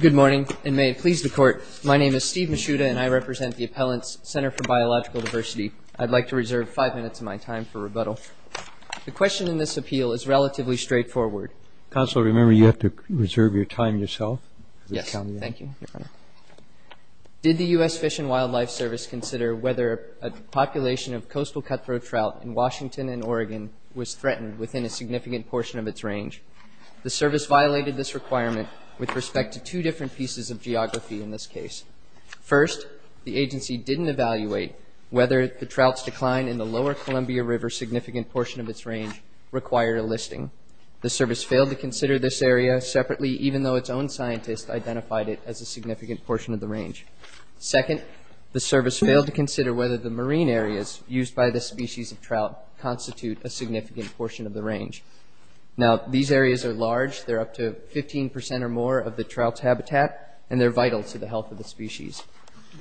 Good morning, and may it please the Court, my name is Steve Mishuda and I represent the Appellants Cntr for Biological Diversity. I'd like to reserve five minutes of my time for rebuttal. The question in this appeal is relatively straightforward. Counselor, remember you have to reserve your time yourself. Yes, thank you, Your Honor. Did the US Fish & Wildlife Service consider whether a population of coastal cutthroat trout in Washington and Oregon was threatened within a significant portion of its range? The Service violated this requirement with respect to two different pieces of geography in this case. First, the agency didn't evaluate whether the trout's decline in the lower Columbia River significant portion of its range required a listing. The Service failed to consider this area separately, even though its own scientist identified it as a significant portion of the range. Second, the Service failed to consider whether the marine areas used by this species of trout constitute a significant portion of the range. Now, these areas are large. They're up to 15 percent or more of the trout's habitat, and they're vital to the health of the species.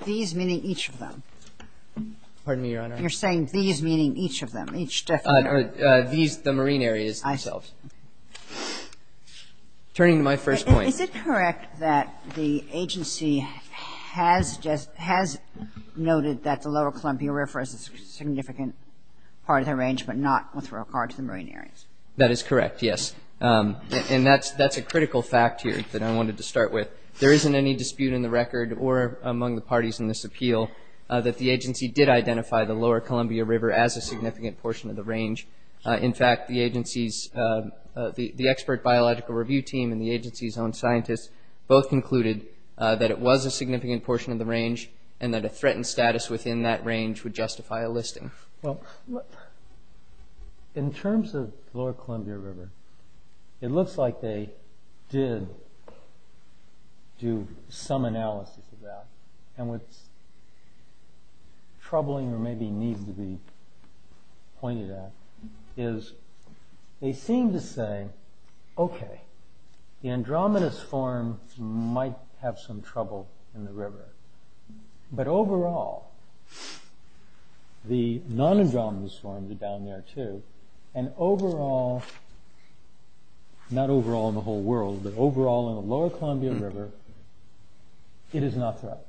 These meaning each of them? Pardon me, Your Honor? You're saying these meaning each of them, each different? These, the marine areas themselves. Turning to my first point. Is it correct that the agency has noted that the lower Columbia River is a significant part of the range, but not with regard to the marine areas? That is correct, yes. And that's a critical fact here that I wanted to start with. There isn't any dispute in the record or among the parties in this appeal that the agency did identify the lower Columbia River as a significant portion of the range. In fact, the expert biological review team and the agency's own scientists both concluded that it was a significant portion of the range, and that a threatened status within that range would justify a listing. Well, in terms of the lower Columbia River, it looks like they did do some analysis of that, and what's troubling or maybe needs to be pointed at is they seem to say, okay, the Andromedas form might have some trouble in the river. But overall, the non-Andromedas forms are down there too, and overall, not overall in the whole world, but overall in the lower Columbia River, it is not threatened.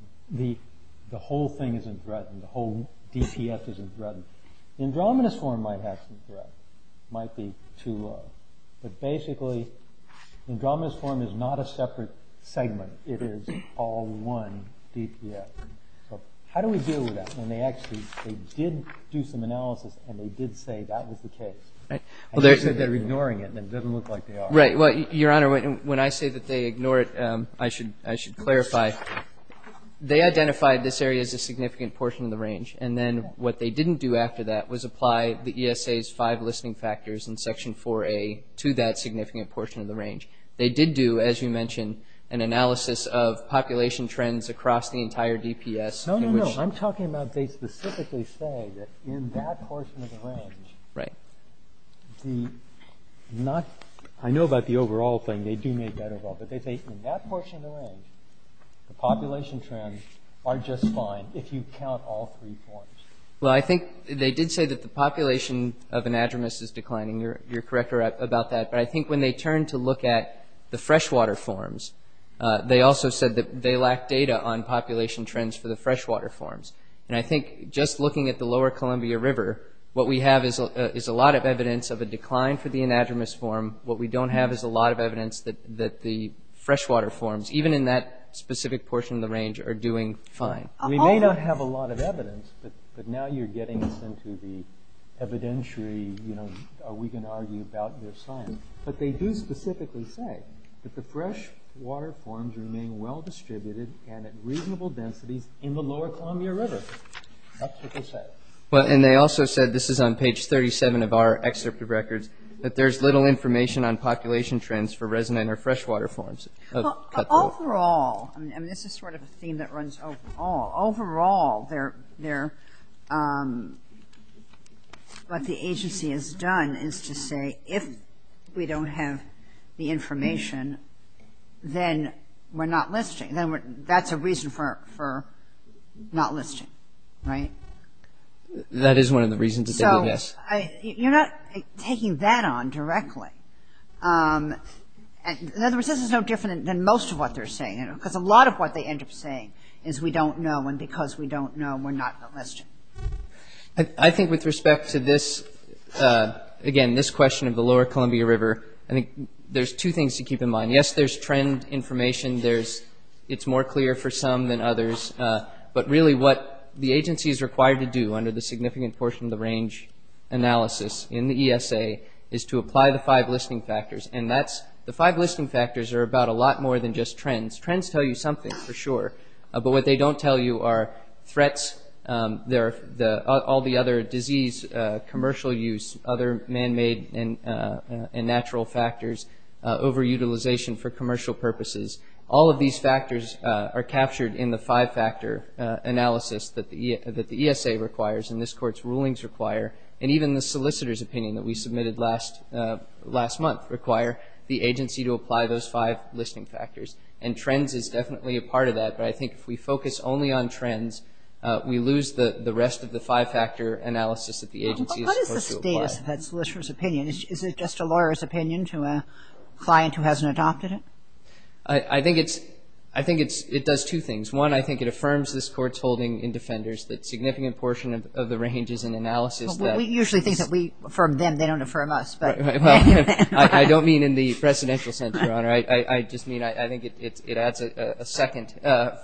The whole thing isn't threatened. The whole DPS isn't threatened. Andromedas form might have some threat. It might be too low. But basically, Andromedas form is not a separate segment. It is all one DPS. So how do we deal with that when they actually did do some analysis and they did say that was the case? Well, they're ignoring it, and it doesn't look like they are. Right. Well, Your Honor, when I say that they ignore it, I should clarify. They identified this area as a significant portion of the range, and then what they didn't do after that was apply the ESA's five listing factors in Section 4A to that significant portion, an analysis of population trends across the entire DPS. No, no, no. I'm talking about they specifically say that in that portion of the range, I know about the overall thing. They do make that overall. But they say in that portion of the range, the population trends are just fine if you count all three forms. Well, I think they did say that the population of an Andromedas is declining. You're correct about that. But I think when they turned to look at the freshwater forms, they also said that they lack data on population trends for the freshwater forms. And I think just looking at the lower Columbia River, what we have is a lot of evidence of a decline for the anadromous form. What we don't have is a lot of evidence that the freshwater forms, even in that specific portion of the range, are doing fine. We may not have a lot of evidence, but now you're getting us into the evidentiary, we can argue about their science. But they do specifically say that the freshwater forms remain well distributed and at reasonable densities in the lower Columbia River. That's what they said. Well, and they also said, this is on page 37 of our excerpt of records, that there's little information on population trends for resonant or freshwater forms. Overall, and this is sort of a theme that runs overall, what the agency has done is to say, if we don't have the information, then we're not listing. That's a reason for not listing, right? That is one of the reasons. You're not taking that on directly. In other words, this is no different than most of what they're saying. Because a lot of what they end up saying is, we don't know, and because we don't know, we're not going to list it. I think with respect to this, again, this question of the lower Columbia River, I think there's two things to keep in mind. Yes, there's trend information. It's more clear for some than others. But really what the agency is required to do under the significant portion of the range analysis in the ESA is to apply the five listing factors. The five listing factors are about a lot more than just trends. Trends tell you something for sure, but what they don't tell you are threats, all the other disease, commercial use, other man-made and natural factors, over-utilization for commercial purposes. All of these factors are captured in the five-factor analysis that the ESA requires and this Court's rulings require, and even the solicitor's opinion that we submitted last month require the agency to apply those five listing factors. And trends is definitely a part of that, but I think if we focus only on trends, we lose the rest of the five-factor analysis that the agency is supposed to apply. That's the solicitor's opinion. Is it just a lawyer's opinion to a client who hasn't adopted it? I think it does two things. One, I think it affirms this Court's holding in Defenders that a significant portion of the range is in analysis. We usually think that we affirm them. They don't affirm us. I don't mean in the Presidential Center, Honor. I just mean I think it adds a second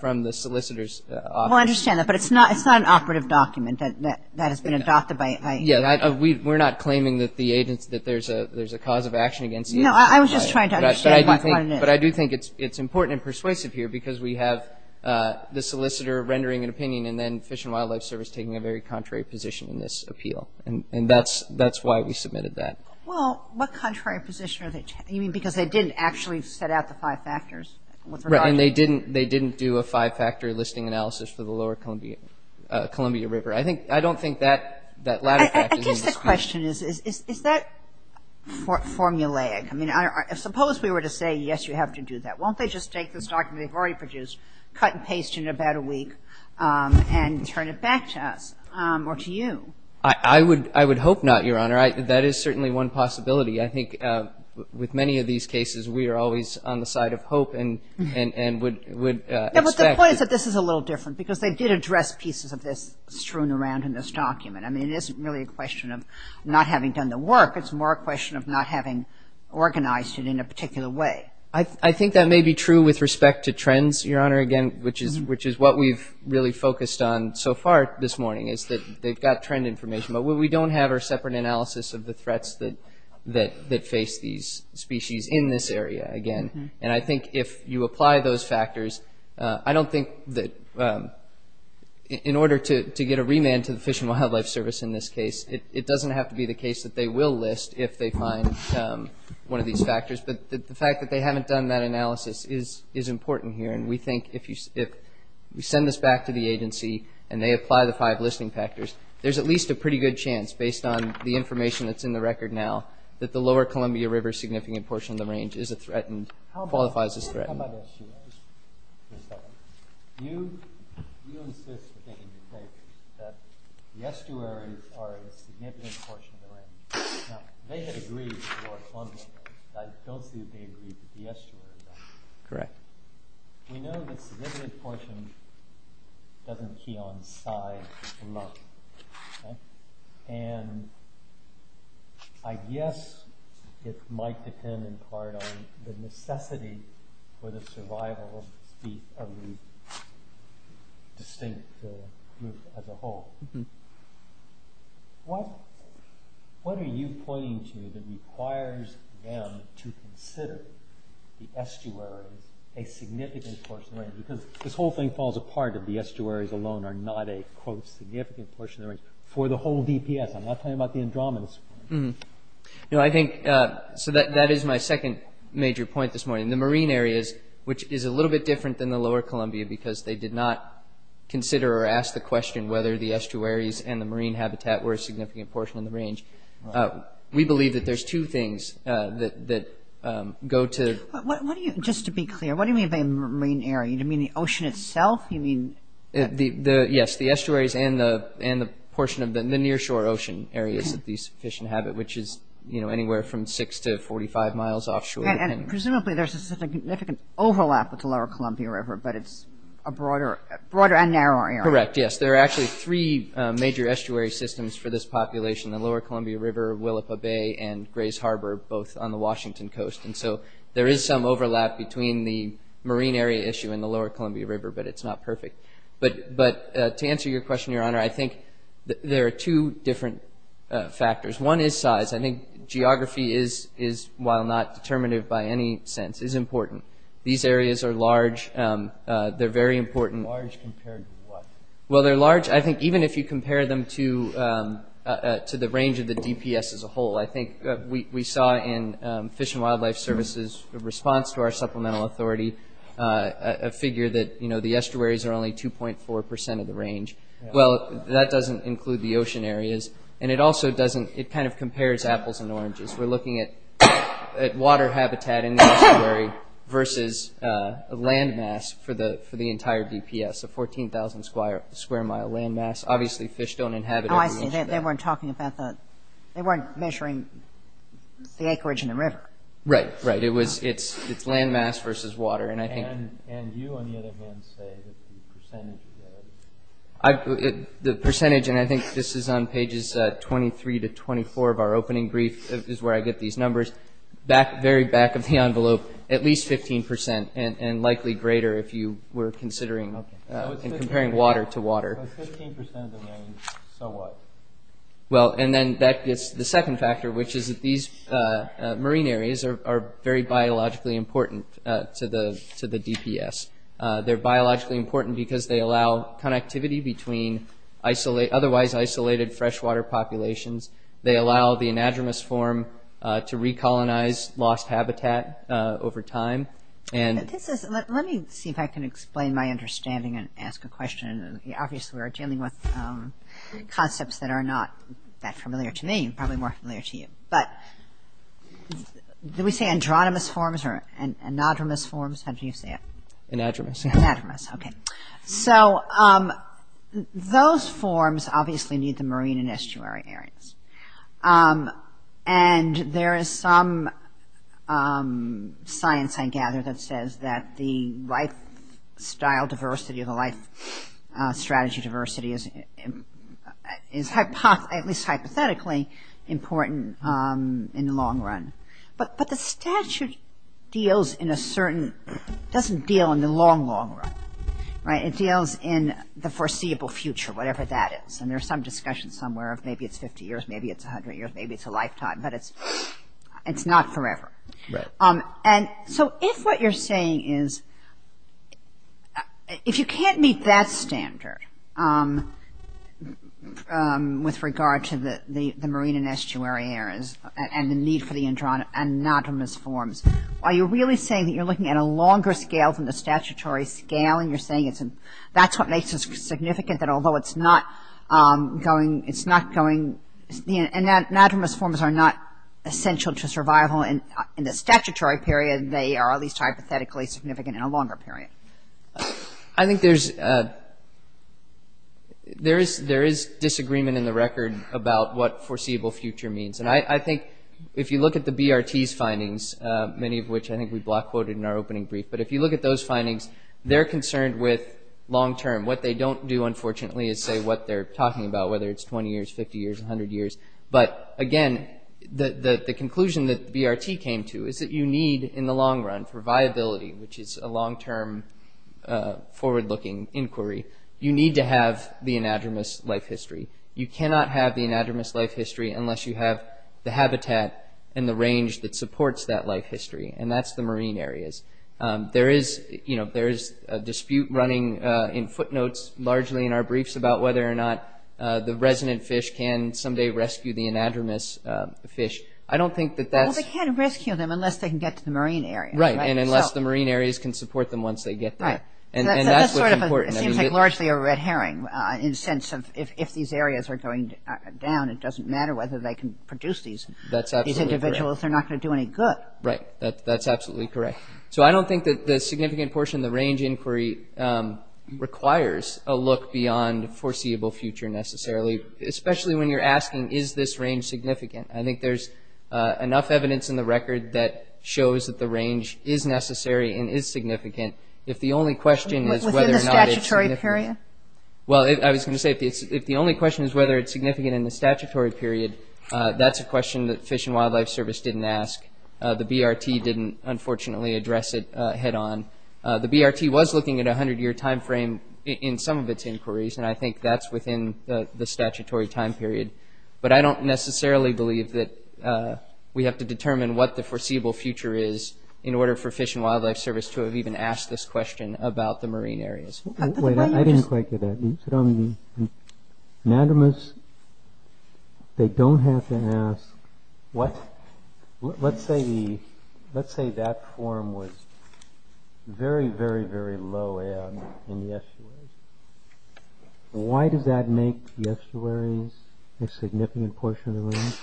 from the solicitor's office. Well, I understand that, but it's not an operative document that has been adopted by you. Yeah, we're not claiming that there's a cause of action against you. No, I was just trying to understand what it is. But I do think it's important and persuasive here because we have the solicitor rendering an opinion and then Fish and Wildlife Service taking a very contrary position in this appeal. And that's why we submitted that. Well, what contrary position? You mean because they didn't actually set out the five factors? Right, and they didn't do a five-factor listing analysis for the lower Columbia River. I don't think that latter fact is in this case. I guess the question is, is that formulaic? I mean, suppose we were to say, yes, you have to do that. Won't they just take this document they've already produced, cut and paste it in about a week, and turn it back to us or to you? I would hope not, Your Honor. That is certainly one possibility. I think with many of these cases, we are always on the side of hope and would expect that. But this is a little different because they did address pieces of this strewn around in this document. I mean, it isn't really a question of not having done the work. It's more a question of not having organized it in a particular way. I think that may be true with respect to trends, Your Honor, again, which is what we've really focused on so far this morning is that they've got trend information. But what we don't have are separate analysis of the threats that face these species in this area, again. And I think if you apply those factors, I don't think that in order to get a remand to the Fish and Wildlife Service in this case, it doesn't have to be the case that they will list if they find one of these factors. But the fact that they haven't done that analysis is important here. And we think if we send this back to the agency and they apply the five listing factors, there's at least a pretty good chance, based on the information that's in the record now, that the lower Columbia River significant portion of the range is a threatened, qualifies as threatened. How about estuaries? You insist that the estuaries are a significant portion of the range. Now, they had agreed to lower Columbia River. I don't see that they agreed to the estuaries. Correct. We know that significant portion doesn't key on size and volume. And I guess it might depend in part on the necessity for the survival of the distinct group as a whole. What are you pointing to that requires them to consider the estuaries a significant portion of the range? Because this whole thing falls apart if the estuaries alone are not a, quote, significant portion of the range for the whole DPS. I'm not talking about the Andromedas. You know, I think so that is my second major point this morning. The marine areas, which is a little bit different than the lower Columbia, because they did not consider or ask the question whether the estuaries and the marine habitat were a significant portion of the range. We believe that there's two things that go to. Just to be clear, what do you mean by marine area? Do you mean the ocean itself? Yes, the estuaries and the portion of the near shore ocean areas that these fish inhabit, which is, you know, anywhere from 6 to 45 miles offshore. And presumably there's a significant overlap with the lower Columbia River, but it's a broader and narrower area. Correct, yes. There are actually three major estuary systems for this population, the lower Columbia River, Willapa Bay, and Grays Harbor, both on the Washington coast. And so there is some overlap between the marine area issue and the lower Columbia River, but it's not perfect. But to answer your question, Your Honor, I think there are two different factors. One is size. I think geography is, while not determinative by any sense, is important. These areas are large. They're very important. Large compared to what? Well, they're large, I think, even if you compare them to the range of the DPS as a whole. I think we saw in Fish and Wildlife Service's response to our supplemental authority a figure that, you know, the estuaries are only 2.4 percent of the range. Well, that doesn't include the ocean areas. And it also doesn't, it kind of compares apples and oranges. We're looking at water habitat in the estuary versus land mass for the entire DPS, a 14,000 square mile land mass. Obviously fish don't inhabit every inch of that. They weren't measuring the acreage and the river. Right, right. It's land mass versus water. And you, on the other hand, say that the percentage of the area. The percentage, and I think this is on pages 23 to 24 of our opening brief, is where I get these numbers, very back of the envelope, at least 15 percent and likely greater if you were considering and comparing water to water. If it's 15 percent of the range, so what? Well, and then that gets to the second factor, which is that these marine areas are very biologically important to the DPS. They're biologically important because they allow connectivity between otherwise isolated freshwater populations. They allow the anadromous form to recolonize lost habitat over time. Let me see if I can explain my understanding and ask a question. Obviously we're dealing with concepts that are not that familiar to me, probably more familiar to you. But do we say andronomous forms or anadromous forms? How do you say it? Anadromous. Anadromous, okay. So those forms obviously need the marine and estuary areas. And there is some science, I gather, that says that the lifestyle diversity or the life strategy diversity is at least hypothetically important in the long run. But the statute deals in a certain – doesn't deal in the long, long run, right? It deals in the foreseeable future, whatever that is. And there's some discussion somewhere of maybe it's 50 years, maybe it's 100 years, maybe it's a lifetime. But it's not forever. Right. And so if what you're saying is – if you can't meet that standard with regard to the marine and estuary areas and the need for the anadromous forms, are you really saying that you're looking at a longer scale than the statutory scale? And you're saying that's what makes it significant that although it's not going – it's not going – anadromous forms are not essential to survival in the statutory period. They are at least hypothetically significant in a longer period. I think there's – there is disagreement in the record about what foreseeable future means. And I think if you look at the BRT's findings, many of which I think we block quoted in our opening brief, but if you look at those findings, they're concerned with long-term. What they don't do, unfortunately, is say what they're talking about, whether it's 20 years, 50 years, 100 years. But, again, the conclusion that the BRT came to is that you need in the long run for viability, which is a long-term forward-looking inquiry, you need to have the anadromous life history. You cannot have the anadromous life history unless you have the habitat and the range that supports that life history. And that's the marine areas. There is – you know, there is a dispute running in footnotes largely in our briefs about whether or not the resident fish can someday rescue the anadromous fish. I don't think that that's – Well, they can't rescue them unless they can get to the marine area. Right. And unless the marine areas can support them once they get there. Right. And that's what's important. It seems like largely a red herring in the sense of if these areas are going down, it doesn't matter whether they can produce these individuals. That's absolutely correct. They're not going to do any good. Right. That's absolutely correct. So I don't think that the significant portion of the range inquiry requires a look beyond foreseeable future necessarily, especially when you're asking is this range significant. I think there's enough evidence in the record that shows that the range is necessary and is significant if the only question is whether or not it's significant. Within the statutory period? Well, I was going to say if the only question is whether it's significant in the statutory period, that's a question that Fish and Wildlife Service didn't ask. The BRT didn't, unfortunately, address it head on. The BRT was looking at a 100-year time frame in some of its inquiries, and I think that's within the statutory time period. But I don't necessarily believe that we have to determine what the foreseeable future is in order for Fish and Wildlife Service to have even asked this question about the marine areas. Wait, I didn't quite get that. Anonymous, they don't have to ask. Let's say that form was very, very, very low in the estuaries. Why does that make the estuaries a significant portion of the range?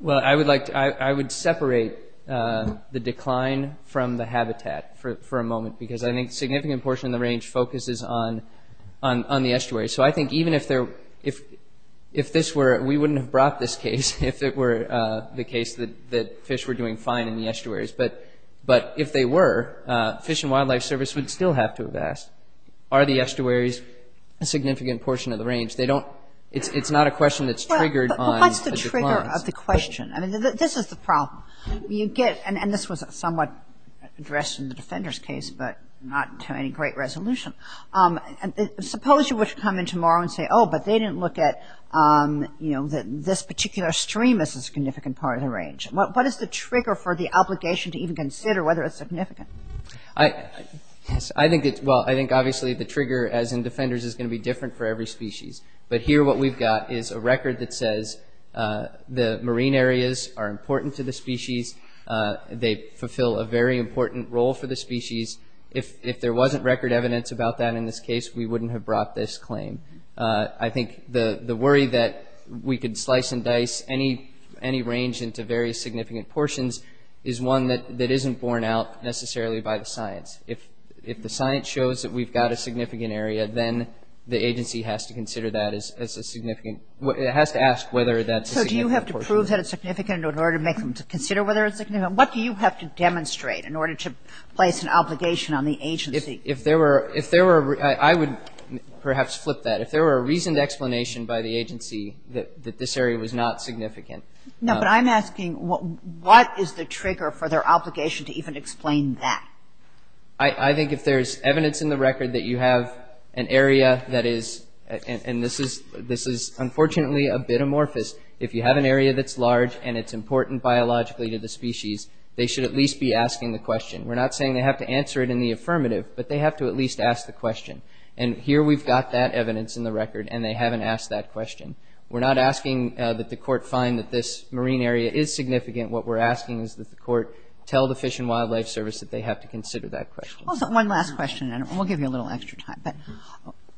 Well, I would separate the decline from the habitat for a moment because I think significant portion of the range focuses on the estuaries. So I think even if this were, we wouldn't have brought this case if it were the case that fish were doing fine in the estuaries. But if they were, Fish and Wildlife Service would still have to have asked, are the estuaries a significant portion of the range? They don't, it's not a question that's triggered on the declines. Well, what's the trigger of the question? I mean, this is the problem. And this was somewhat addressed in the Defenders case, but not to any great resolution. Suppose you were to come in tomorrow and say, oh, but they didn't look at this particular stream as a significant part of the range. What is the trigger for the obligation to even consider whether it's significant? I think obviously the trigger, as in Defenders, is going to be different for every species. But here what we've got is a record that says the marine areas are important to the species. They fulfill a very important role for the species. If there wasn't record evidence about that in this case, we wouldn't have brought this claim. I think the worry that we could slice and dice any range into various significant portions is one that isn't borne out necessarily by the science. If the science shows that we've got a significant area, then the agency has to consider that as a significant, it has to ask whether that's a significant portion. So do you have to prove that it's significant in order to make them consider whether it's significant? What do you have to demonstrate in order to place an obligation on the agency? If there were, if there were, I would perhaps flip that. If there were a reasoned explanation by the agency that this area was not significant. No, but I'm asking what is the trigger for their obligation to even explain that? I think if there's evidence in the record that you have an area that is, and this is unfortunately a bit amorphous, if you have an area that's large and it's important biologically to the species, they should at least be asking the question. We're not saying they have to answer it in the affirmative, but they have to at least ask the question. And here we've got that evidence in the record, and they haven't asked that question. We're not asking that the court find that this marine area is significant. What we're asking is that the court tell the Fish and Wildlife Service that they have to consider that question. One last question, and we'll give you a little extra time. But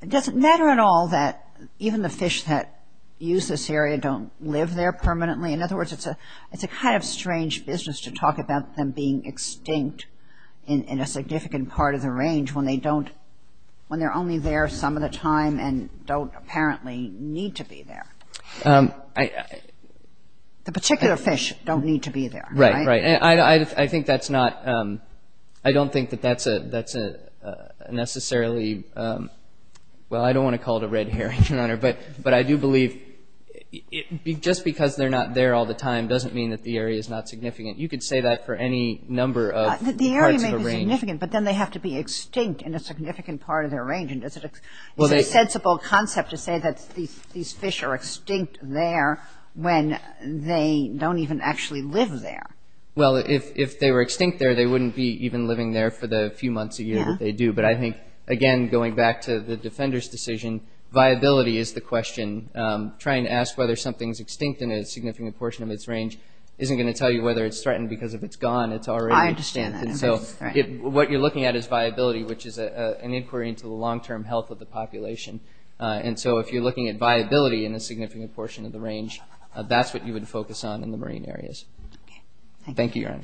does it matter at all that even the fish that use this area don't live there permanently? In other words, it's a kind of strange business to talk about them being extinct in a significant part of the range when they don't, when they're only there some of the time and don't apparently need to be there. The particular fish don't need to be there, right? Right. I think that's not, I don't think that that's necessarily, well, I don't want to call it a red herring, Your Honor, but I do believe just because they're not there all the time doesn't mean that the area is not significant. But then they have to be extinct in a significant part of their range. And is it a sensible concept to say that these fish are extinct there when they don't even actually live there? Well, if they were extinct there, they wouldn't be even living there for the few months a year that they do. But I think, again, going back to the defender's decision, viability is the question. Trying to ask whether something's extinct in a significant portion of its range isn't going to tell you whether it's threatened because if it's gone, it's already extinct. I understand that. So what you're looking at is viability, which is an inquiry into the long-term health of the population. And so if you're looking at viability in a significant portion of the range, that's what you would focus on in the marine areas. Okay. Thank you. Thank you, Your Honor.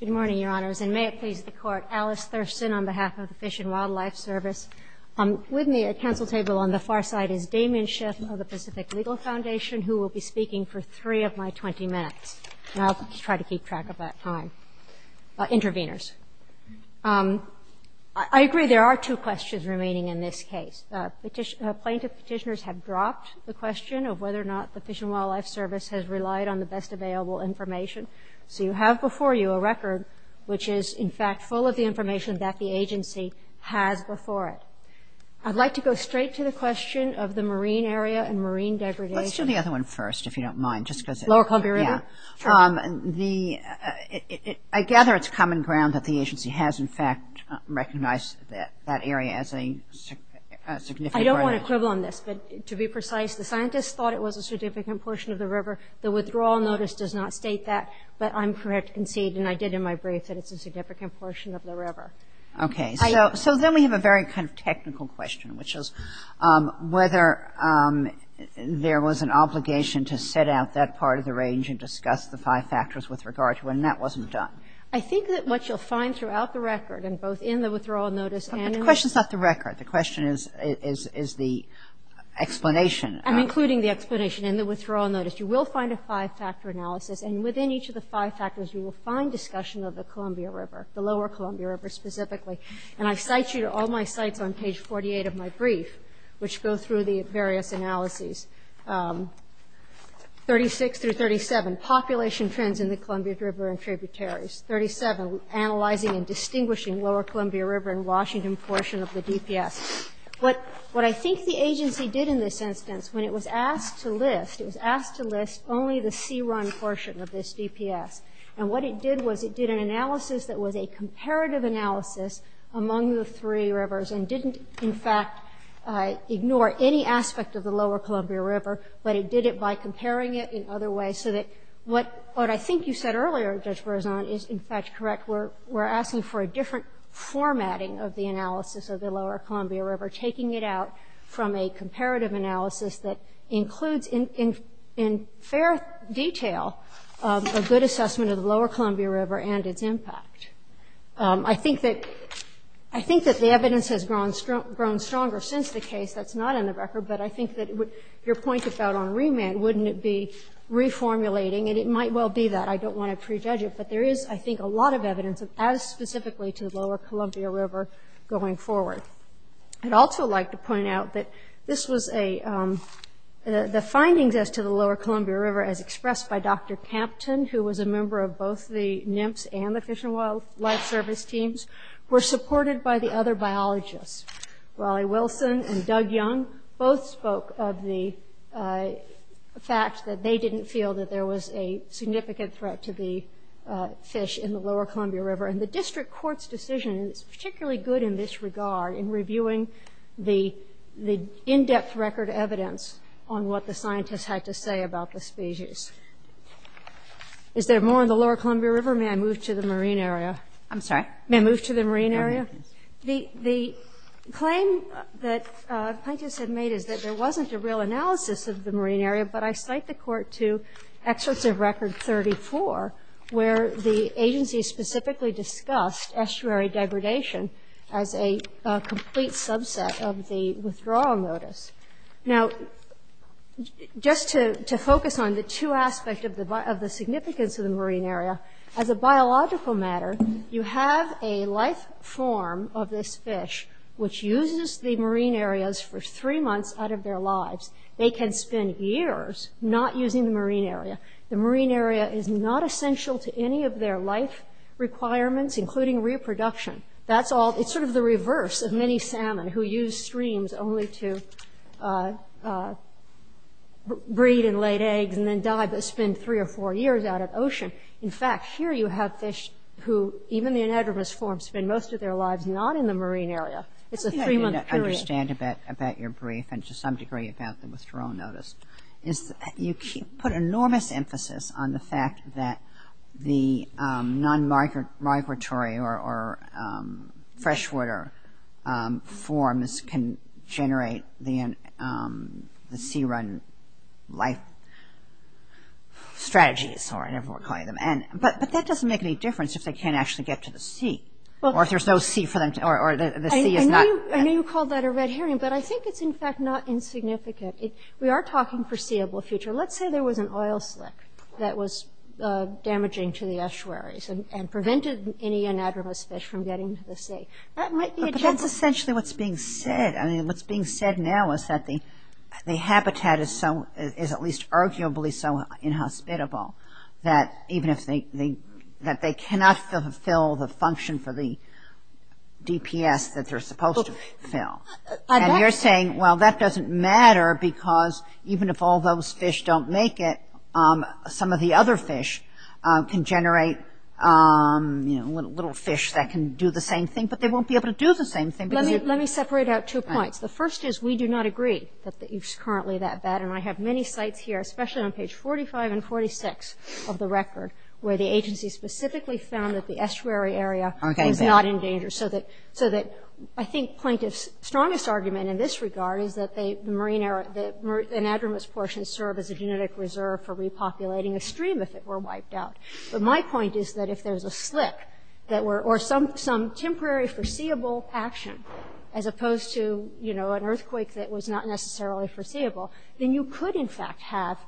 Good morning, Your Honors. And may it please the Court, Alice Thurston on behalf of the Fish and Wildlife Service. With me at council table on the far side is Damien Schiff of the Pacific Legal Foundation, who will be speaking for three of my 20 minutes. And I'll try to keep track of that time. Interveners. I agree there are two questions remaining in this case. Plaintiff petitioners have dropped the question of whether or not the Fish and Wildlife Service has relied on the best available information. So you have before you a record which is, in fact, full of the information that the agency has before it. I'd like to go straight to the question of the marine area and marine degradation. Let's do the other one first, if you don't mind. Lower Columbia River? Yeah. I gather it's common ground that the agency has, in fact, recognized that area as a significant area. I don't want to quibble on this, but to be precise, the scientists thought it was a significant portion of the river. The withdrawal notice does not state that, but I'm correct to concede, and I did in my brief, that it's a significant portion of the river. Okay. So then we have a very kind of technical question, which is whether there was an obligation to set out that part of the range and discuss the five factors with regard to it, and that wasn't done. I think that what you'll find throughout the record, and both in the withdrawal notice and in the- The question's not the record. The question is the explanation. I'm including the explanation in the withdrawal notice. You will find a five-factor analysis, and within each of the five factors you will find discussion of the Columbia River, the Lower Columbia River specifically. And I cite you to all my cites on page 48 of my brief, which go through the various analyses. 36 through 37, population trends in the Columbia River and tributaries. 37, analyzing and distinguishing Lower Columbia River and Washington portion of the DPS. What I think the agency did in this instance, when it was asked to list, it was asked to list only the sea run portion of this DPS, and what it did was it did an analysis that was a comparative analysis among the three rivers and didn't, in fact, ignore any aspect of the Lower Columbia River, but it did it by comparing it in other ways so that what I think you said earlier, Judge Berzon, is, in fact, correct. We're asking for a different formatting of the analysis of the Lower Columbia River, taking it out from a comparative analysis that includes, in fair detail, a good assessment of the Lower Columbia River and its impact. I think that the evidence has grown stronger since the case. That's not in the record, but I think that your point about on remand, wouldn't it be reformulating, and it might well be that. I don't want to prejudge it, but there is, I think, a lot of evidence as specifically to the Lower Columbia River going forward. I'd also like to point out that this was a – the findings as to the Lower Columbia River as expressed by Dr. Campton, who was a member of both the NIMS and the Fish and Wildlife Service teams, were supported by the other biologists. Raleigh Wilson and Doug Young both spoke of the fact that they didn't feel that there was a significant threat to the fish in the Lower Columbia River. And the district court's decision is particularly good in this regard, in reviewing the in-depth record evidence on what the scientists had to say about the species. Is there more on the Lower Columbia River? May I move to the marine area? I'm sorry? May I move to the marine area? The claim that plaintiffs have made is that there wasn't a real analysis of the marine area, but I cite the Court to Excerpts of Record 34, where the agency specifically discussed estuary degradation as a complete subset of the withdrawal notice. Now, just to focus on the two aspects of the significance of the marine area, as a biological matter, you have a life form of this fish, which uses the marine areas for three months out of their lives. They can spend years not using the marine area. The marine area is not essential to any of their life requirements, including reproduction. That's all. It's sort of the reverse of many salmon, who use streams only to breed and lay eggs and then die, but spend three or four years out at ocean. In fact, here you have fish who, even in the anadromous form, spend most of their lives not in the marine area. It's a three-month period. What I don't understand about your brief, and to some degree about the withdrawal notice, is you put enormous emphasis on the fact that the non-migratory or freshwater forms can generate the sea run life strategies, or whatever we're calling them. But that doesn't make any difference if they can't actually get to the sea, or if there's no sea for them, or the sea is not- I know you called that a red herring, but I think it's in fact not insignificant. We are talking foreseeable future. Let's say there was an oil slick that was damaging to the estuaries and prevented any anadromous fish from getting to the sea. That might be a chance- But that's essentially what's being said. What's being said now is that the habitat is at least arguably so inhospitable that even if they cannot fulfill the function for the DPS that they're supposed to fill. And you're saying, well, that doesn't matter because even if all those fish don't make it, some of the other fish can generate little fish that can do the same thing, but they won't be able to do the same thing. Let me separate out two points. The first is we do not agree that it's currently that bad, and I have many sites here, especially on page 45 and 46 of the record, where the agency specifically found that the estuary area is not in danger so that I think plaintiff's strongest argument in this regard is that anadromous portions serve as a genetic reserve for repopulating a stream if it were wiped out. But my point is that if there's a slick or some temporary foreseeable action as opposed to an earthquake that was not necessarily foreseeable, then you could in fact have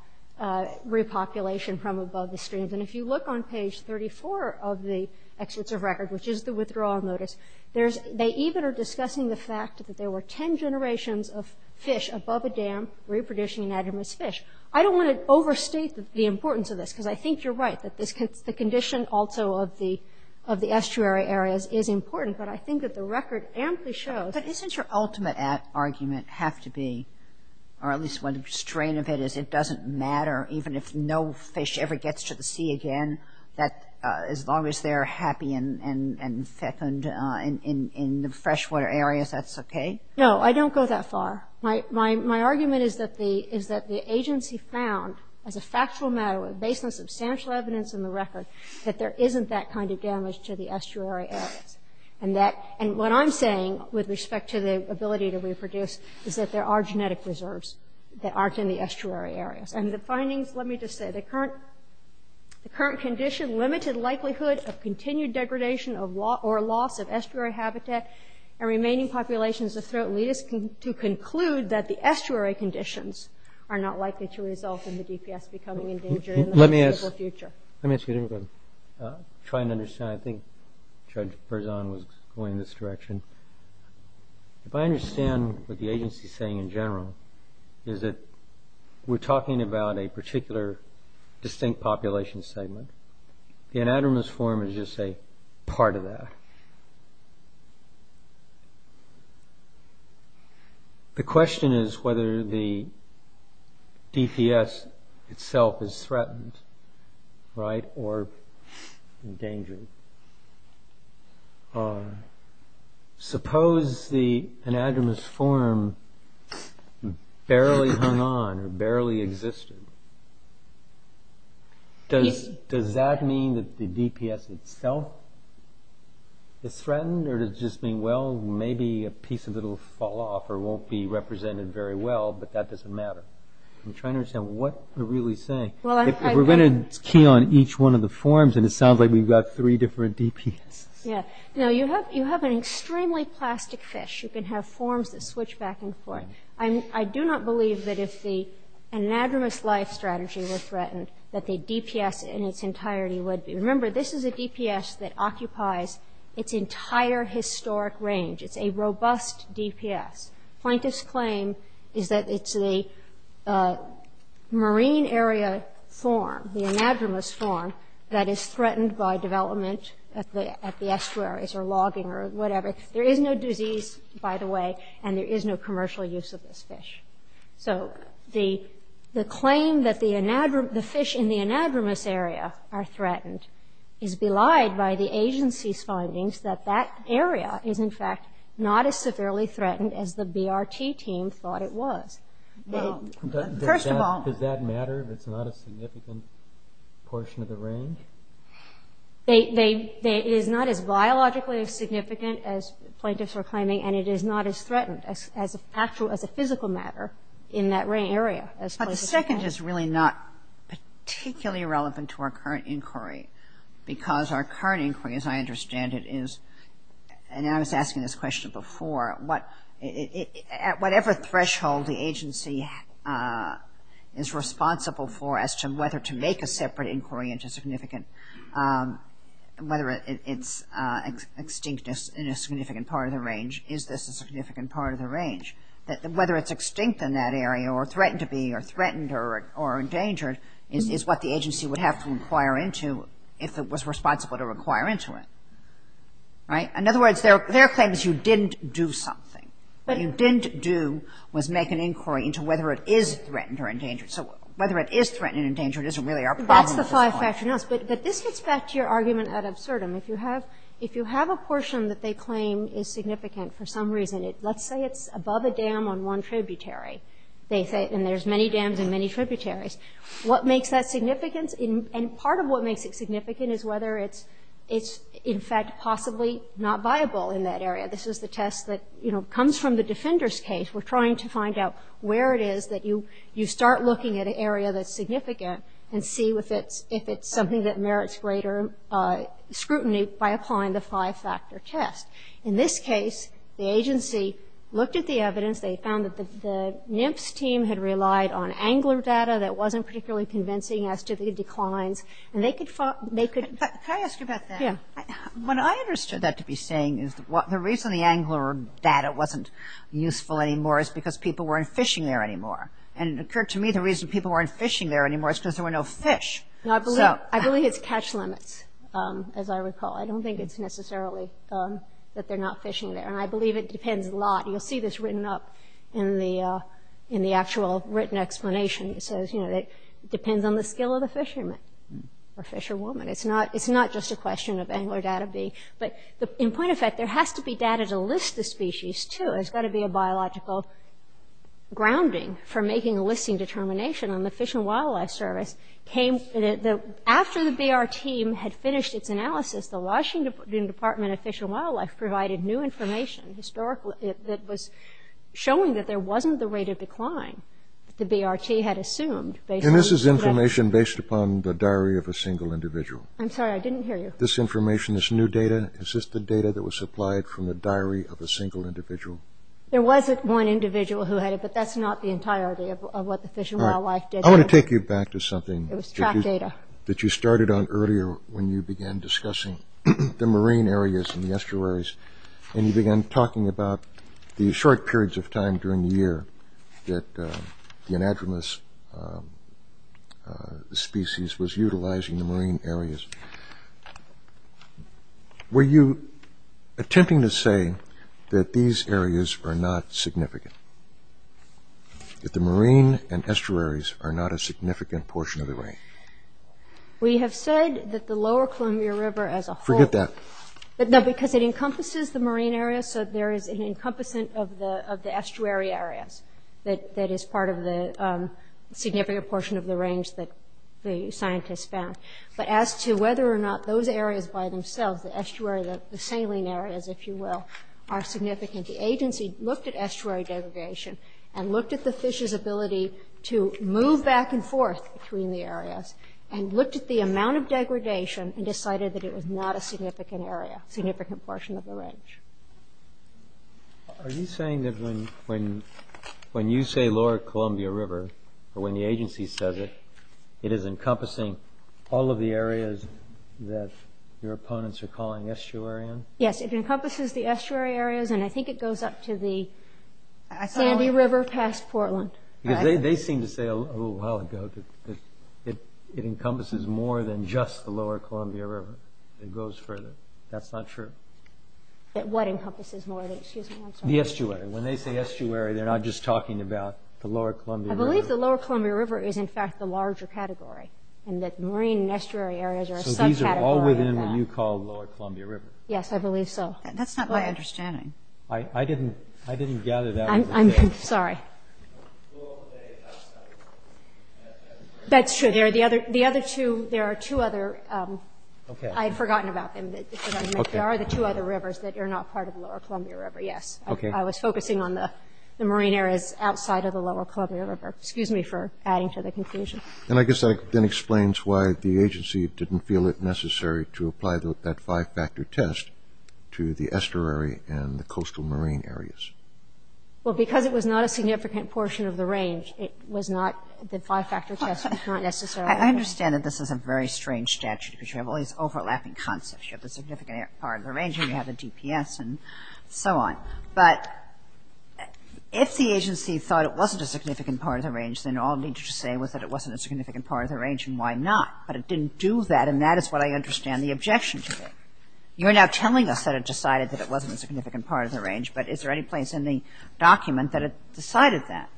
repopulation from above the streams. And if you look on page 34 of the excerpts of record, which is the withdrawal notice, they even are discussing the fact that there were 10 generations of fish above a dam reproducing anadromous fish. I don't want to overstate the importance of this because I think you're right that the condition also of the estuary areas is important, but I think that the record amply shows. But doesn't your ultimate argument have to be, or at least one strain of it is it doesn't matter even if no fish ever gets to the sea again, that as long as they're happy and fecund in the freshwater areas, that's okay? No, I don't go that far. My argument is that the agency found as a factual matter based on substantial evidence in the record that there isn't that kind of damage to the estuary areas. And what I'm saying with respect to the ability to reproduce is that there are genetic reserves that aren't in the estuary areas. And the findings, let me just say, the current condition, limited likelihood of continued degradation or loss of estuary habitat and remaining populations of Throatletus to conclude that the estuary conditions are not likely to result in the DPS becoming endangered in the foreseeable future. Let me ask you a different question. I'm trying to understand. I think Judge Berzon was going in this direction. If I understand what the agency is saying in general, is that we're talking about a particular distinct population segment. The anadromous form is just a part of that. The question is whether the DPS itself is threatened or endangered. Suppose the anadromous form barely hung on or barely existed. Does that mean that the DPS itself is threatened? Or does it just mean, well, maybe a piece of it will fall off or won't be represented very well, but that doesn't matter. I'm trying to understand what they're really saying. If we're going to key on each one of the forms, and it sounds like we've got three different DPSs. You have an extremely plastic fish. You can have forms that switch back and forth. I do not believe that if the anadromous life strategy were threatened, that the DPS in its entirety would be. Remember, this is a DPS that occupies its entire historic range. It's a robust DPS. Plankton's claim is that it's the marine area form, the anadromous form, that is threatened by development at the estuaries or logging or whatever. There is no disease, by the way, and there is no commercial use of this fish. So the claim that the fish in the anadromous area are threatened is belied by the agency's findings that that area is, in fact, not as severely threatened as the BRT team thought it was. First of all. Does that matter if it's not a significant portion of the range? It is not as biologically significant as plaintiffs are claiming, and it is not as threatened as a physical matter in that area. But the second is really not particularly relevant to our current inquiry because our current inquiry, as I understand it, is, and I was asking this question before, at whatever threshold the agency is responsible for as to whether to make a separate inquiry into significant, whether it's extinct in a significant part of the range, is this a significant part of the range, that whether it's extinct in that area or threatened to be or threatened or endangered is what the agency would have to inquire into if it was responsible to inquire into it. Right? In other words, their claim is you didn't do something. What you didn't do was make an inquiry into whether it is threatened or endangered. So whether it is threatened or endangered isn't really our problem at this point. That's the five-factor analysis. But this gets back to your argument at Absurdum. If you have a portion that they claim is significant for some reason, let's say it's above a dam on one tributary, and there's many dams and many tributaries, what makes that significant? And part of what makes it significant is whether it's, in fact, possibly not viable in that area. This is the test that comes from the defender's case. We're trying to find out where it is that you start looking at an area that's significant and see if it's something that merits greater scrutiny by applying the five-factor test. In this case, the agency looked at the evidence. They found that the NIMFS team had relied on angler data that wasn't particularly convincing as to the declines. Can I ask you about that? Yeah. What I understood that to be saying is the reason the angler data wasn't useful anymore is because people weren't fishing there anymore. And it occurred to me the reason people weren't fishing there anymore is because there were no fish. I believe it's catch limits, as I recall. I don't think it's necessarily that they're not fishing there. And I believe it depends a lot. You'll see this written up in the actual written explanation. It says, you know, it depends on the skill of the fisherman or fisherwoman. It's not just a question of angler data being – but in point of fact, there has to be data to list the species, too. There's got to be a biological grounding for making a listing determination. And the Fish and Wildlife Service came – after the BRT had finished its analysis, the Washington Department of Fish and Wildlife provided new information historically that was showing that there wasn't the rate of decline. The BRT had assumed – And this is information based upon the diary of a single individual. I'm sorry, I didn't hear you. This information, this new data, is this the data that was supplied from the diary of a single individual? There was one individual who had it, but that's not the entirety of what the Fish and Wildlife did. All right. I want to take you back to something. It was track data. That you started on earlier when you began discussing the marine areas and the estuaries. And you began talking about the short periods of time during the year that the anadromous species was utilizing the marine areas. Were you attempting to say that these areas are not significant, that the marine and estuaries are not a significant portion of the range? We have said that the lower Columbia River as a whole – Forget that. No, because it encompasses the marine areas, so there is an encompassing of the estuary areas that is part of the significant portion of the range that the scientists found. But as to whether or not those areas by themselves, the estuary, the saline areas, if you will, are significant, the agency looked at estuary degradation and looked at the fish's ability to move back and forth between the areas and looked at the amount of degradation and decided that it was not a significant area, a significant portion of the range. Are you saying that when you say lower Columbia River or when the agency says it, it is encompassing all of the areas that your opponents are calling estuary in? Yes, it encompasses the estuary areas, and I think it goes up to the Sandy River past Portland. Because they seem to say a little while ago that it encompasses more than just the lower Columbia River. It goes further. That's not true. What encompasses more? The estuary. When they say estuary, they're not just talking about the lower Columbia River. I believe the lower Columbia River is, in fact, the larger category and that marine and estuary areas are a subcategory of that. So these are all within what you call lower Columbia River. Yes, I believe so. That's not my understanding. I didn't gather that was the case. I'm sorry. That's true. The other two, there are two other. Okay. I had forgotten about them. There are the two other rivers that are not part of the lower Columbia River, yes. Okay. I was focusing on the marine areas outside of the lower Columbia River. Excuse me for adding to the confusion. And I guess that then explains why the agency didn't feel it necessary to apply that five-factor test to the estuary and the coastal marine areas. Well, because it was not a significant portion of the range, it was not the five-factor test was not necessarily. I understand that this is a very strange statute because you have all these overlapping concepts. You have the significant part of the range and you have the DPS and so on. But if the agency thought it wasn't a significant part of the range, then all it needed to say was that it wasn't a significant part of the range, and why not? But it didn't do that, and that is what I understand the objection to be. You're now telling us that it decided that it wasn't a significant part of the range, but is there any place in the document that it decided that?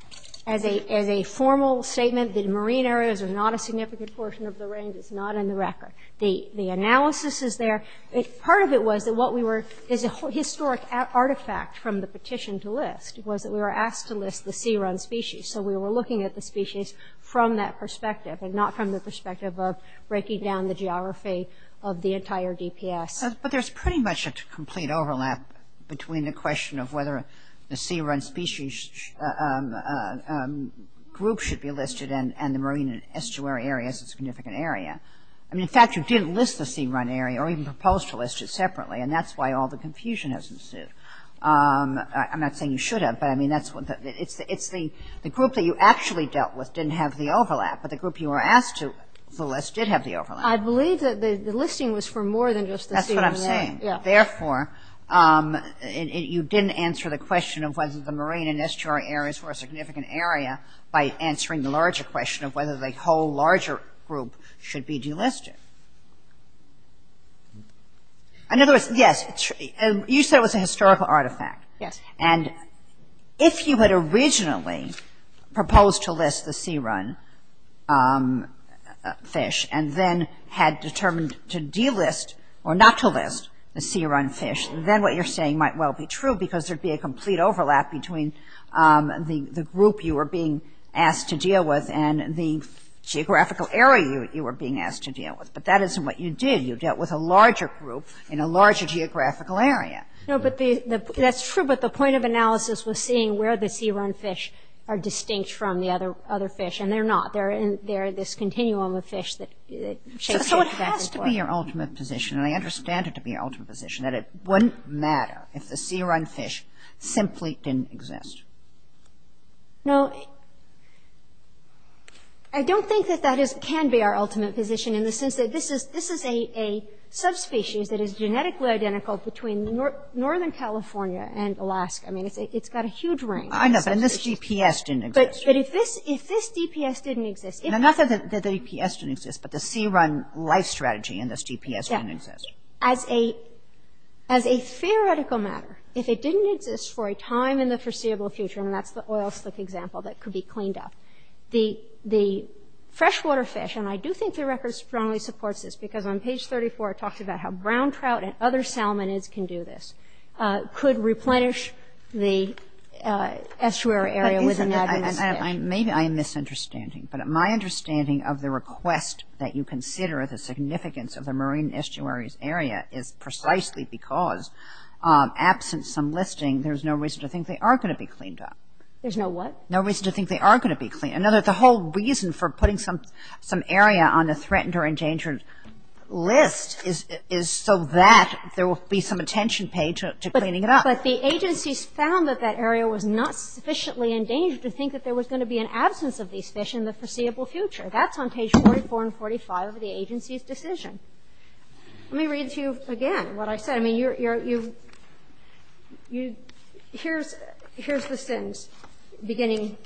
As a formal statement, the marine areas are not a significant portion of the range. It's not in the record. The analysis is there. Part of it was that what we were – is a historic artifact from the petition to list was that we were asked to list the sea-run species. So we were looking at the species from that perspective and not from the perspective of breaking down the geography of the entire DPS. But there's pretty much a complete overlap between the question of whether the sea-run species group should be listed and the marine and estuary areas as a significant area. I mean, in fact, you didn't list the sea-run area or even proposed to list it separately, and that's why all the confusion has ensued. I'm not saying you should have, but, I mean, that's – it's the group that you actually dealt with didn't have the overlap, but the group you were asked to list did have the overlap. I believe that the listing was for more than just the sea-run area. That's what I'm saying. Yeah. Therefore, you didn't answer the question of whether the marine and estuary areas were a significant area by answering the larger question of whether the whole larger group should be delisted. In other words, yes, you said it was a historical artifact. Yes. And if you had originally proposed to list the sea-run fish and then had determined to delist or not to list the sea-run fish, then what you're saying might well be true because there'd be a complete overlap between the group you were being asked to deal with and the geographical area you were being asked to deal with. But that isn't what you did. You dealt with a larger group in a larger geographical area. No, but the – that's true, but the point of analysis was seeing where the sea-run fish are distinct from the other fish, and they're not. They're this continuum of fish that – So it has to be your ultimate position, and I understand it to be your ultimate position, that it wouldn't matter if the sea-run fish simply didn't exist. No, I don't think that that can be our ultimate position in the sense that this is a subspecies that is genetically identical between Northern California and Alaska. I mean, it's got a huge range of subspecies. I know, but this DPS didn't exist. But if this DPS didn't exist – Not that the DPS didn't exist, but the sea-run life strategy in this DPS didn't exist. Yeah. As a theoretical matter, if it didn't exist for a time in the foreseeable future, and that's the oil slick example that could be cleaned up, the freshwater fish – and I do think the record strongly supports this because on page 34 it talks about how brown trout and other salmonids can do this – could replenish the estuary area within that. Maybe I am misunderstanding, but my understanding of the request that you consider the significance of the marine estuaries area is precisely because absent some listing, there's no reason to think they are going to be cleaned up. There's no what? No reason to think they are going to be cleaned up. The whole reason for putting some area on a threatened or endangered list is so that there will be some attention paid to cleaning it up. But the agencies found that that area was not sufficiently endangered to think that there was going to be an absence of these fish in the foreseeable future. That's on page 44 and 45 of the agency's decision. Let me read to you again what I said. I mean, here's the sentence beginning,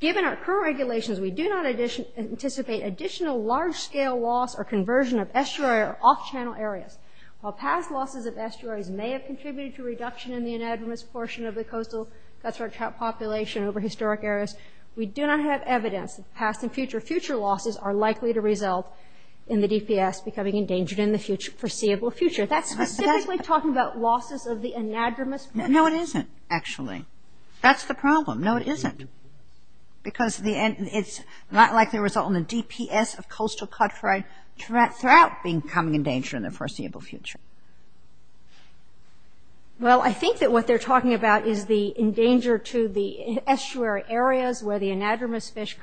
given our current regulations, we do not anticipate additional large-scale loss or conversion of estuary or off-channel areas. While past losses of estuaries may have contributed to reduction in the anadromous portion of the coastal cutthroat trout population over historic areas, we do not have evidence that past and future losses are likely to result in the DPS becoming endangered in the foreseeable future. That's specifically talking about losses of the anadromous portion. No, it isn't, actually. That's the problem. No, it isn't. Because it's not likely to result in the DPS of coastal cutthroat trout becoming endangered in the foreseeable future. Well, I think that what they're talking about is the endanger to the estuary areas where the anadromous fish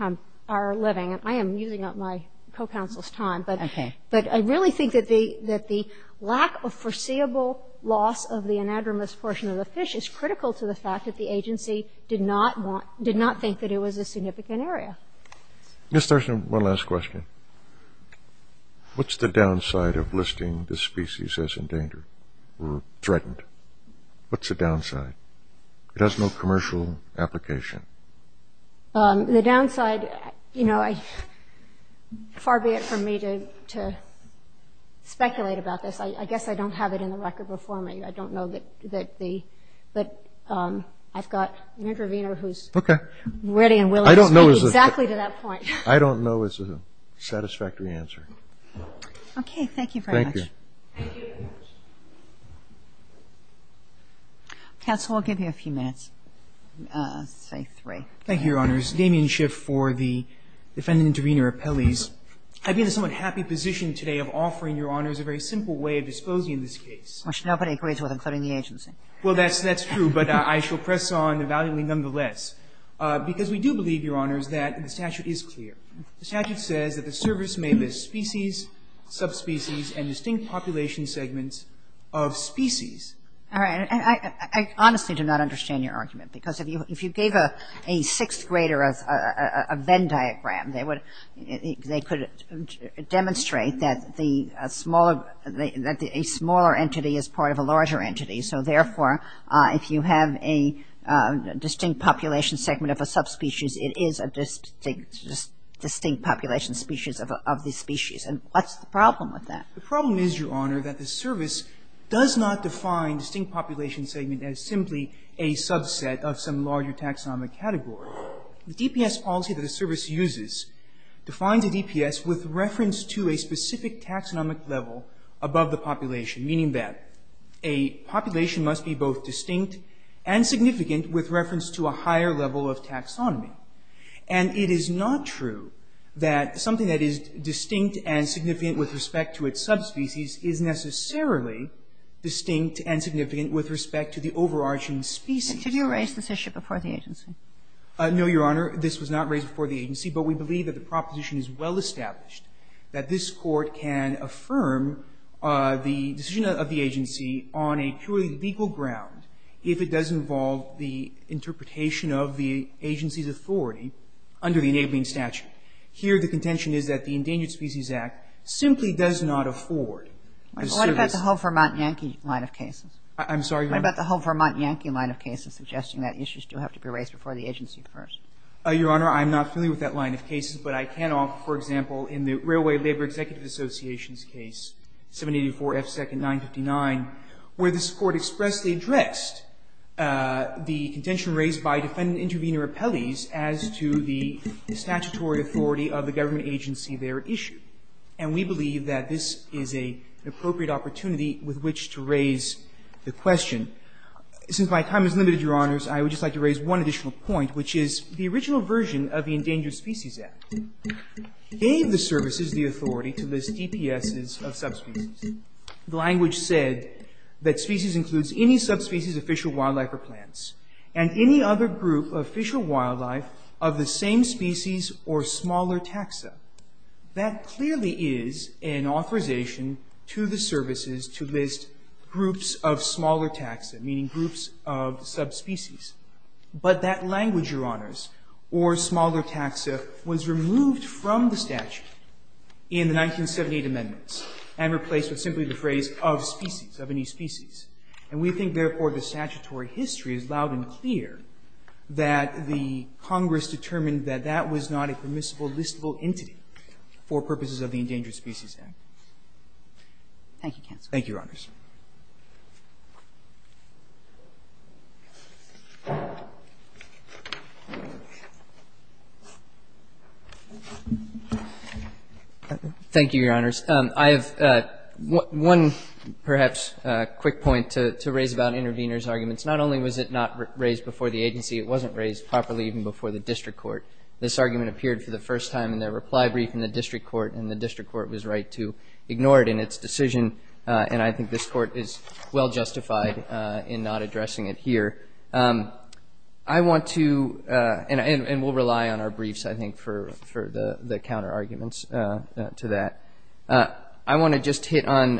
are living. And I am using up my co-counsel's time. Okay. But I really think that the lack of foreseeable loss of the anadromous portion of the fish is critical to the fact that the agency did not think that it was a significant area. Ms. Thurston, one last question. What's the downside of listing the species as endangered or threatened? What's the downside? It has no commercial application. The downside, you know, far be it from me to speculate about this. I guess I don't have it in the record before me. I don't know that the – I've got an intervener who's ready and willing to speak exactly to that point. I don't know is a satisfactory answer. Okay. Thank you very much. Thank you. Counsel, I'll give you a few minutes, say three. Thank you, Your Honors. Damien Schiff for the defendant intervener appellees. I've been in a somewhat happy position today of offering Your Honors a very simple way of disposing of this case. Which nobody agrees with, including the agency. Well, that's true. But I shall press on evaluating nonetheless because we do believe, Your Honors, that the statute is clear. The statute says that the service may list species, subspecies, and distinct population segments of species. All right. I honestly do not understand your argument. Because if you gave a sixth grader a Venn diagram, they could demonstrate that a smaller entity is part of a larger entity. So, therefore, if you have a distinct population segment of a subspecies, it is a distinct population species of the species. And what's the problem with that? The problem is, Your Honor, that the service does not define distinct population segment as simply a subset of some larger taxonomic category. The DPS policy that the service uses defines a DPS with reference to a specific taxonomic level above the population, meaning that a population must be both distinct and significant with reference to a higher level of taxonomy. And it is not true that something that is distinct and significant with respect to its subspecies is necessarily distinct and significant with respect to the overarching species. But did you raise this issue before the agency? No, Your Honor. This was not raised before the agency. But we believe that the proposition is well established, that this Court can affirm the decision of the agency on a purely legal ground if it does involve the interpretation of the agency's authority under the enabling statute. Here, the contention is that the Endangered Species Act simply does not afford the service. What about the whole Vermont Yankee line of cases? I'm sorry, Your Honor? What about the whole Vermont Yankee line of cases suggesting that issues do have to be raised before the agency first? Your Honor, I'm not familiar with that line of cases, but I can offer, for example, in the Railway Labor Executive Association's case, 784 F. Second 959, where this Court expressly addressed the contention raised by defendant-intervenor appellees as to the statutory authority of the government agency they are at issue. And we believe that this is an appropriate opportunity with which to raise the question. Since my time is limited, Your Honors, I would just like to raise one additional point, which is the original version of the Endangered Species Act gave the services the authority to list DPSs of subspecies. The language said that species includes any subspecies of fish or wildlife or plants and any other group of fish or wildlife of the same species or smaller taxa. That clearly is an authorization to the services to list groups of smaller taxa, meaning groups of subspecies. But that language, Your Honors, or smaller taxa, was removed from the statute in the 1978 amendments and replaced with simply the phrase of species, of any species. And we think, therefore, the statutory history is loud and clear that the Congress determined that that was not a permissible listable entity for purposes of the Endangered Species Act. Thank you, counsel. Thank you, Your Honors. Thank you, Your Honors. I have one, perhaps, quick point to raise about Intervenor's arguments. Not only was it not raised before the agency, it wasn't raised properly even before the district court. This argument appeared for the first time in their reply brief in the district court, and the district court was right to ignore it in its decision, and I think this is a very important point. This court is well justified in not addressing it here. I want to, and we'll rely on our briefs, I think, for the counter arguments to that. I want to just hit on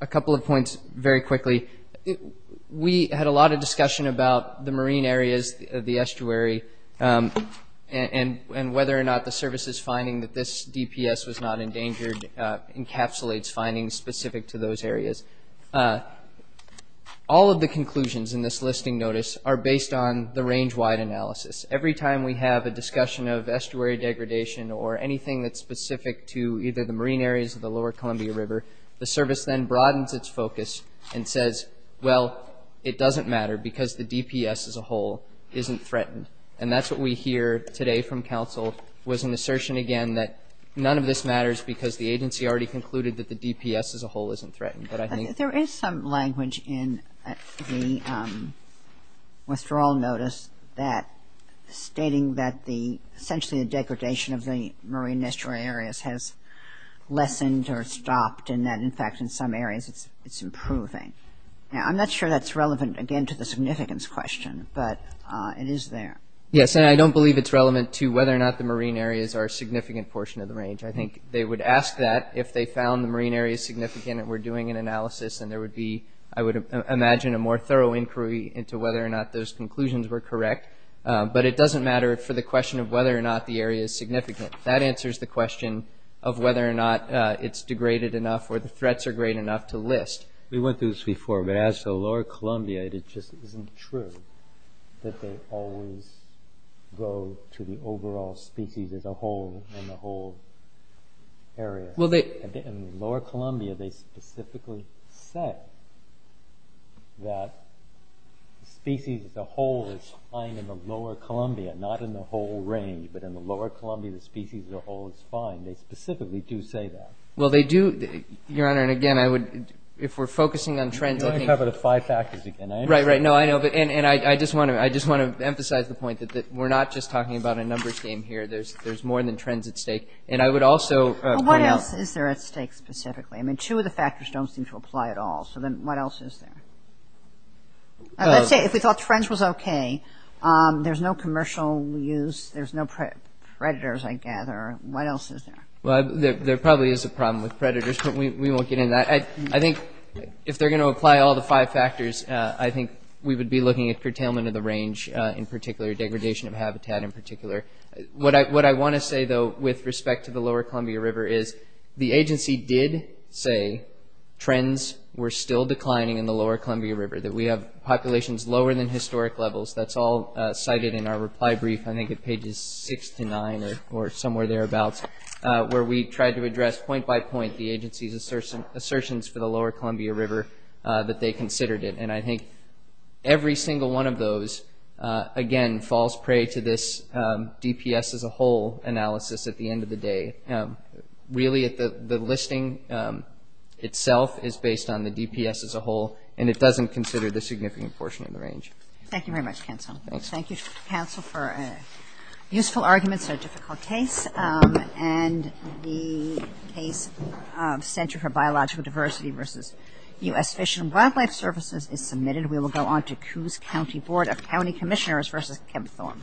a couple of points very quickly. We had a lot of discussion about the marine areas, the estuary, and whether or not the DPS was not endangered encapsulates findings specific to those areas. All of the conclusions in this listing notice are based on the range-wide analysis. Every time we have a discussion of estuary degradation or anything that's specific to either the marine areas or the lower Columbia River, the service then broadens its focus and says, well, it doesn't matter because the DPS as a whole isn't threatened. And that's what we hear today from counsel, was an assertion again that none of this matters because the agency already concluded that the DPS as a whole isn't threatened. But I think there is some language in the withdrawal notice stating that essentially the degradation of the marine estuary areas has lessened or stopped and that, in fact, in some areas it's improving. Now, I'm not sure that's relevant, again, to the significance question, but it is there. Yes, and I don't believe it's relevant to whether or not the marine areas are a significant portion of the range. I think they would ask that if they found the marine areas significant and were doing an analysis and there would be, I would imagine, a more thorough inquiry into whether or not those conclusions were correct. But it doesn't matter for the question of whether or not the area is significant. That answers the question of whether or not it's degraded enough or the threats are great enough to list. We went through this before. But as to the Lower Columbia, it just isn't true that they always go to the overall species as a whole in the whole area. In the Lower Columbia, they specifically said that the species as a whole is fine in the Lower Columbia, not in the whole range. But in the Lower Columbia, the species as a whole is fine. They specifically do say that. Well, they do, Your Honor, and, again, I would, if we're focusing on trends, I think You want to cover the five factors again. Right, right. No, I know. And I just want to emphasize the point that we're not just talking about a numbers game here. There's more than trends at stake. And I would also point out Well, what else is there at stake specifically? I mean, two of the factors don't seem to apply at all. So then what else is there? Let's say if we thought trends was okay, there's no commercial use, there's no predators, I gather. What else is there? Well, there probably is a problem with predators, but we won't get into that. I think if they're going to apply all the five factors, I think we would be looking at curtailment of the range in particular, degradation of habitat in particular. What I want to say, though, with respect to the Lower Columbia River is the agency did say trends were still declining in the Lower Columbia River, that we have populations lower than historic levels. That's all cited in our reply brief. I think it's pages 6 to 9 or somewhere thereabouts. Where we tried to address point by point the agency's assertions for the Lower Columbia River that they considered it. And I think every single one of those, again, falls prey to this DPS as a whole analysis at the end of the day. Really, the listing itself is based on the DPS as a whole. And it doesn't consider the significant portion of the range. Thank you very much, counsel. Thanks. Thank you, counsel, for useful arguments in a difficult case. And the case of Center for Biological Diversity versus U.S. Fish and Wildlife Services is submitted. We will go on to Coos County Board of County Commissioners versus Kempthorne.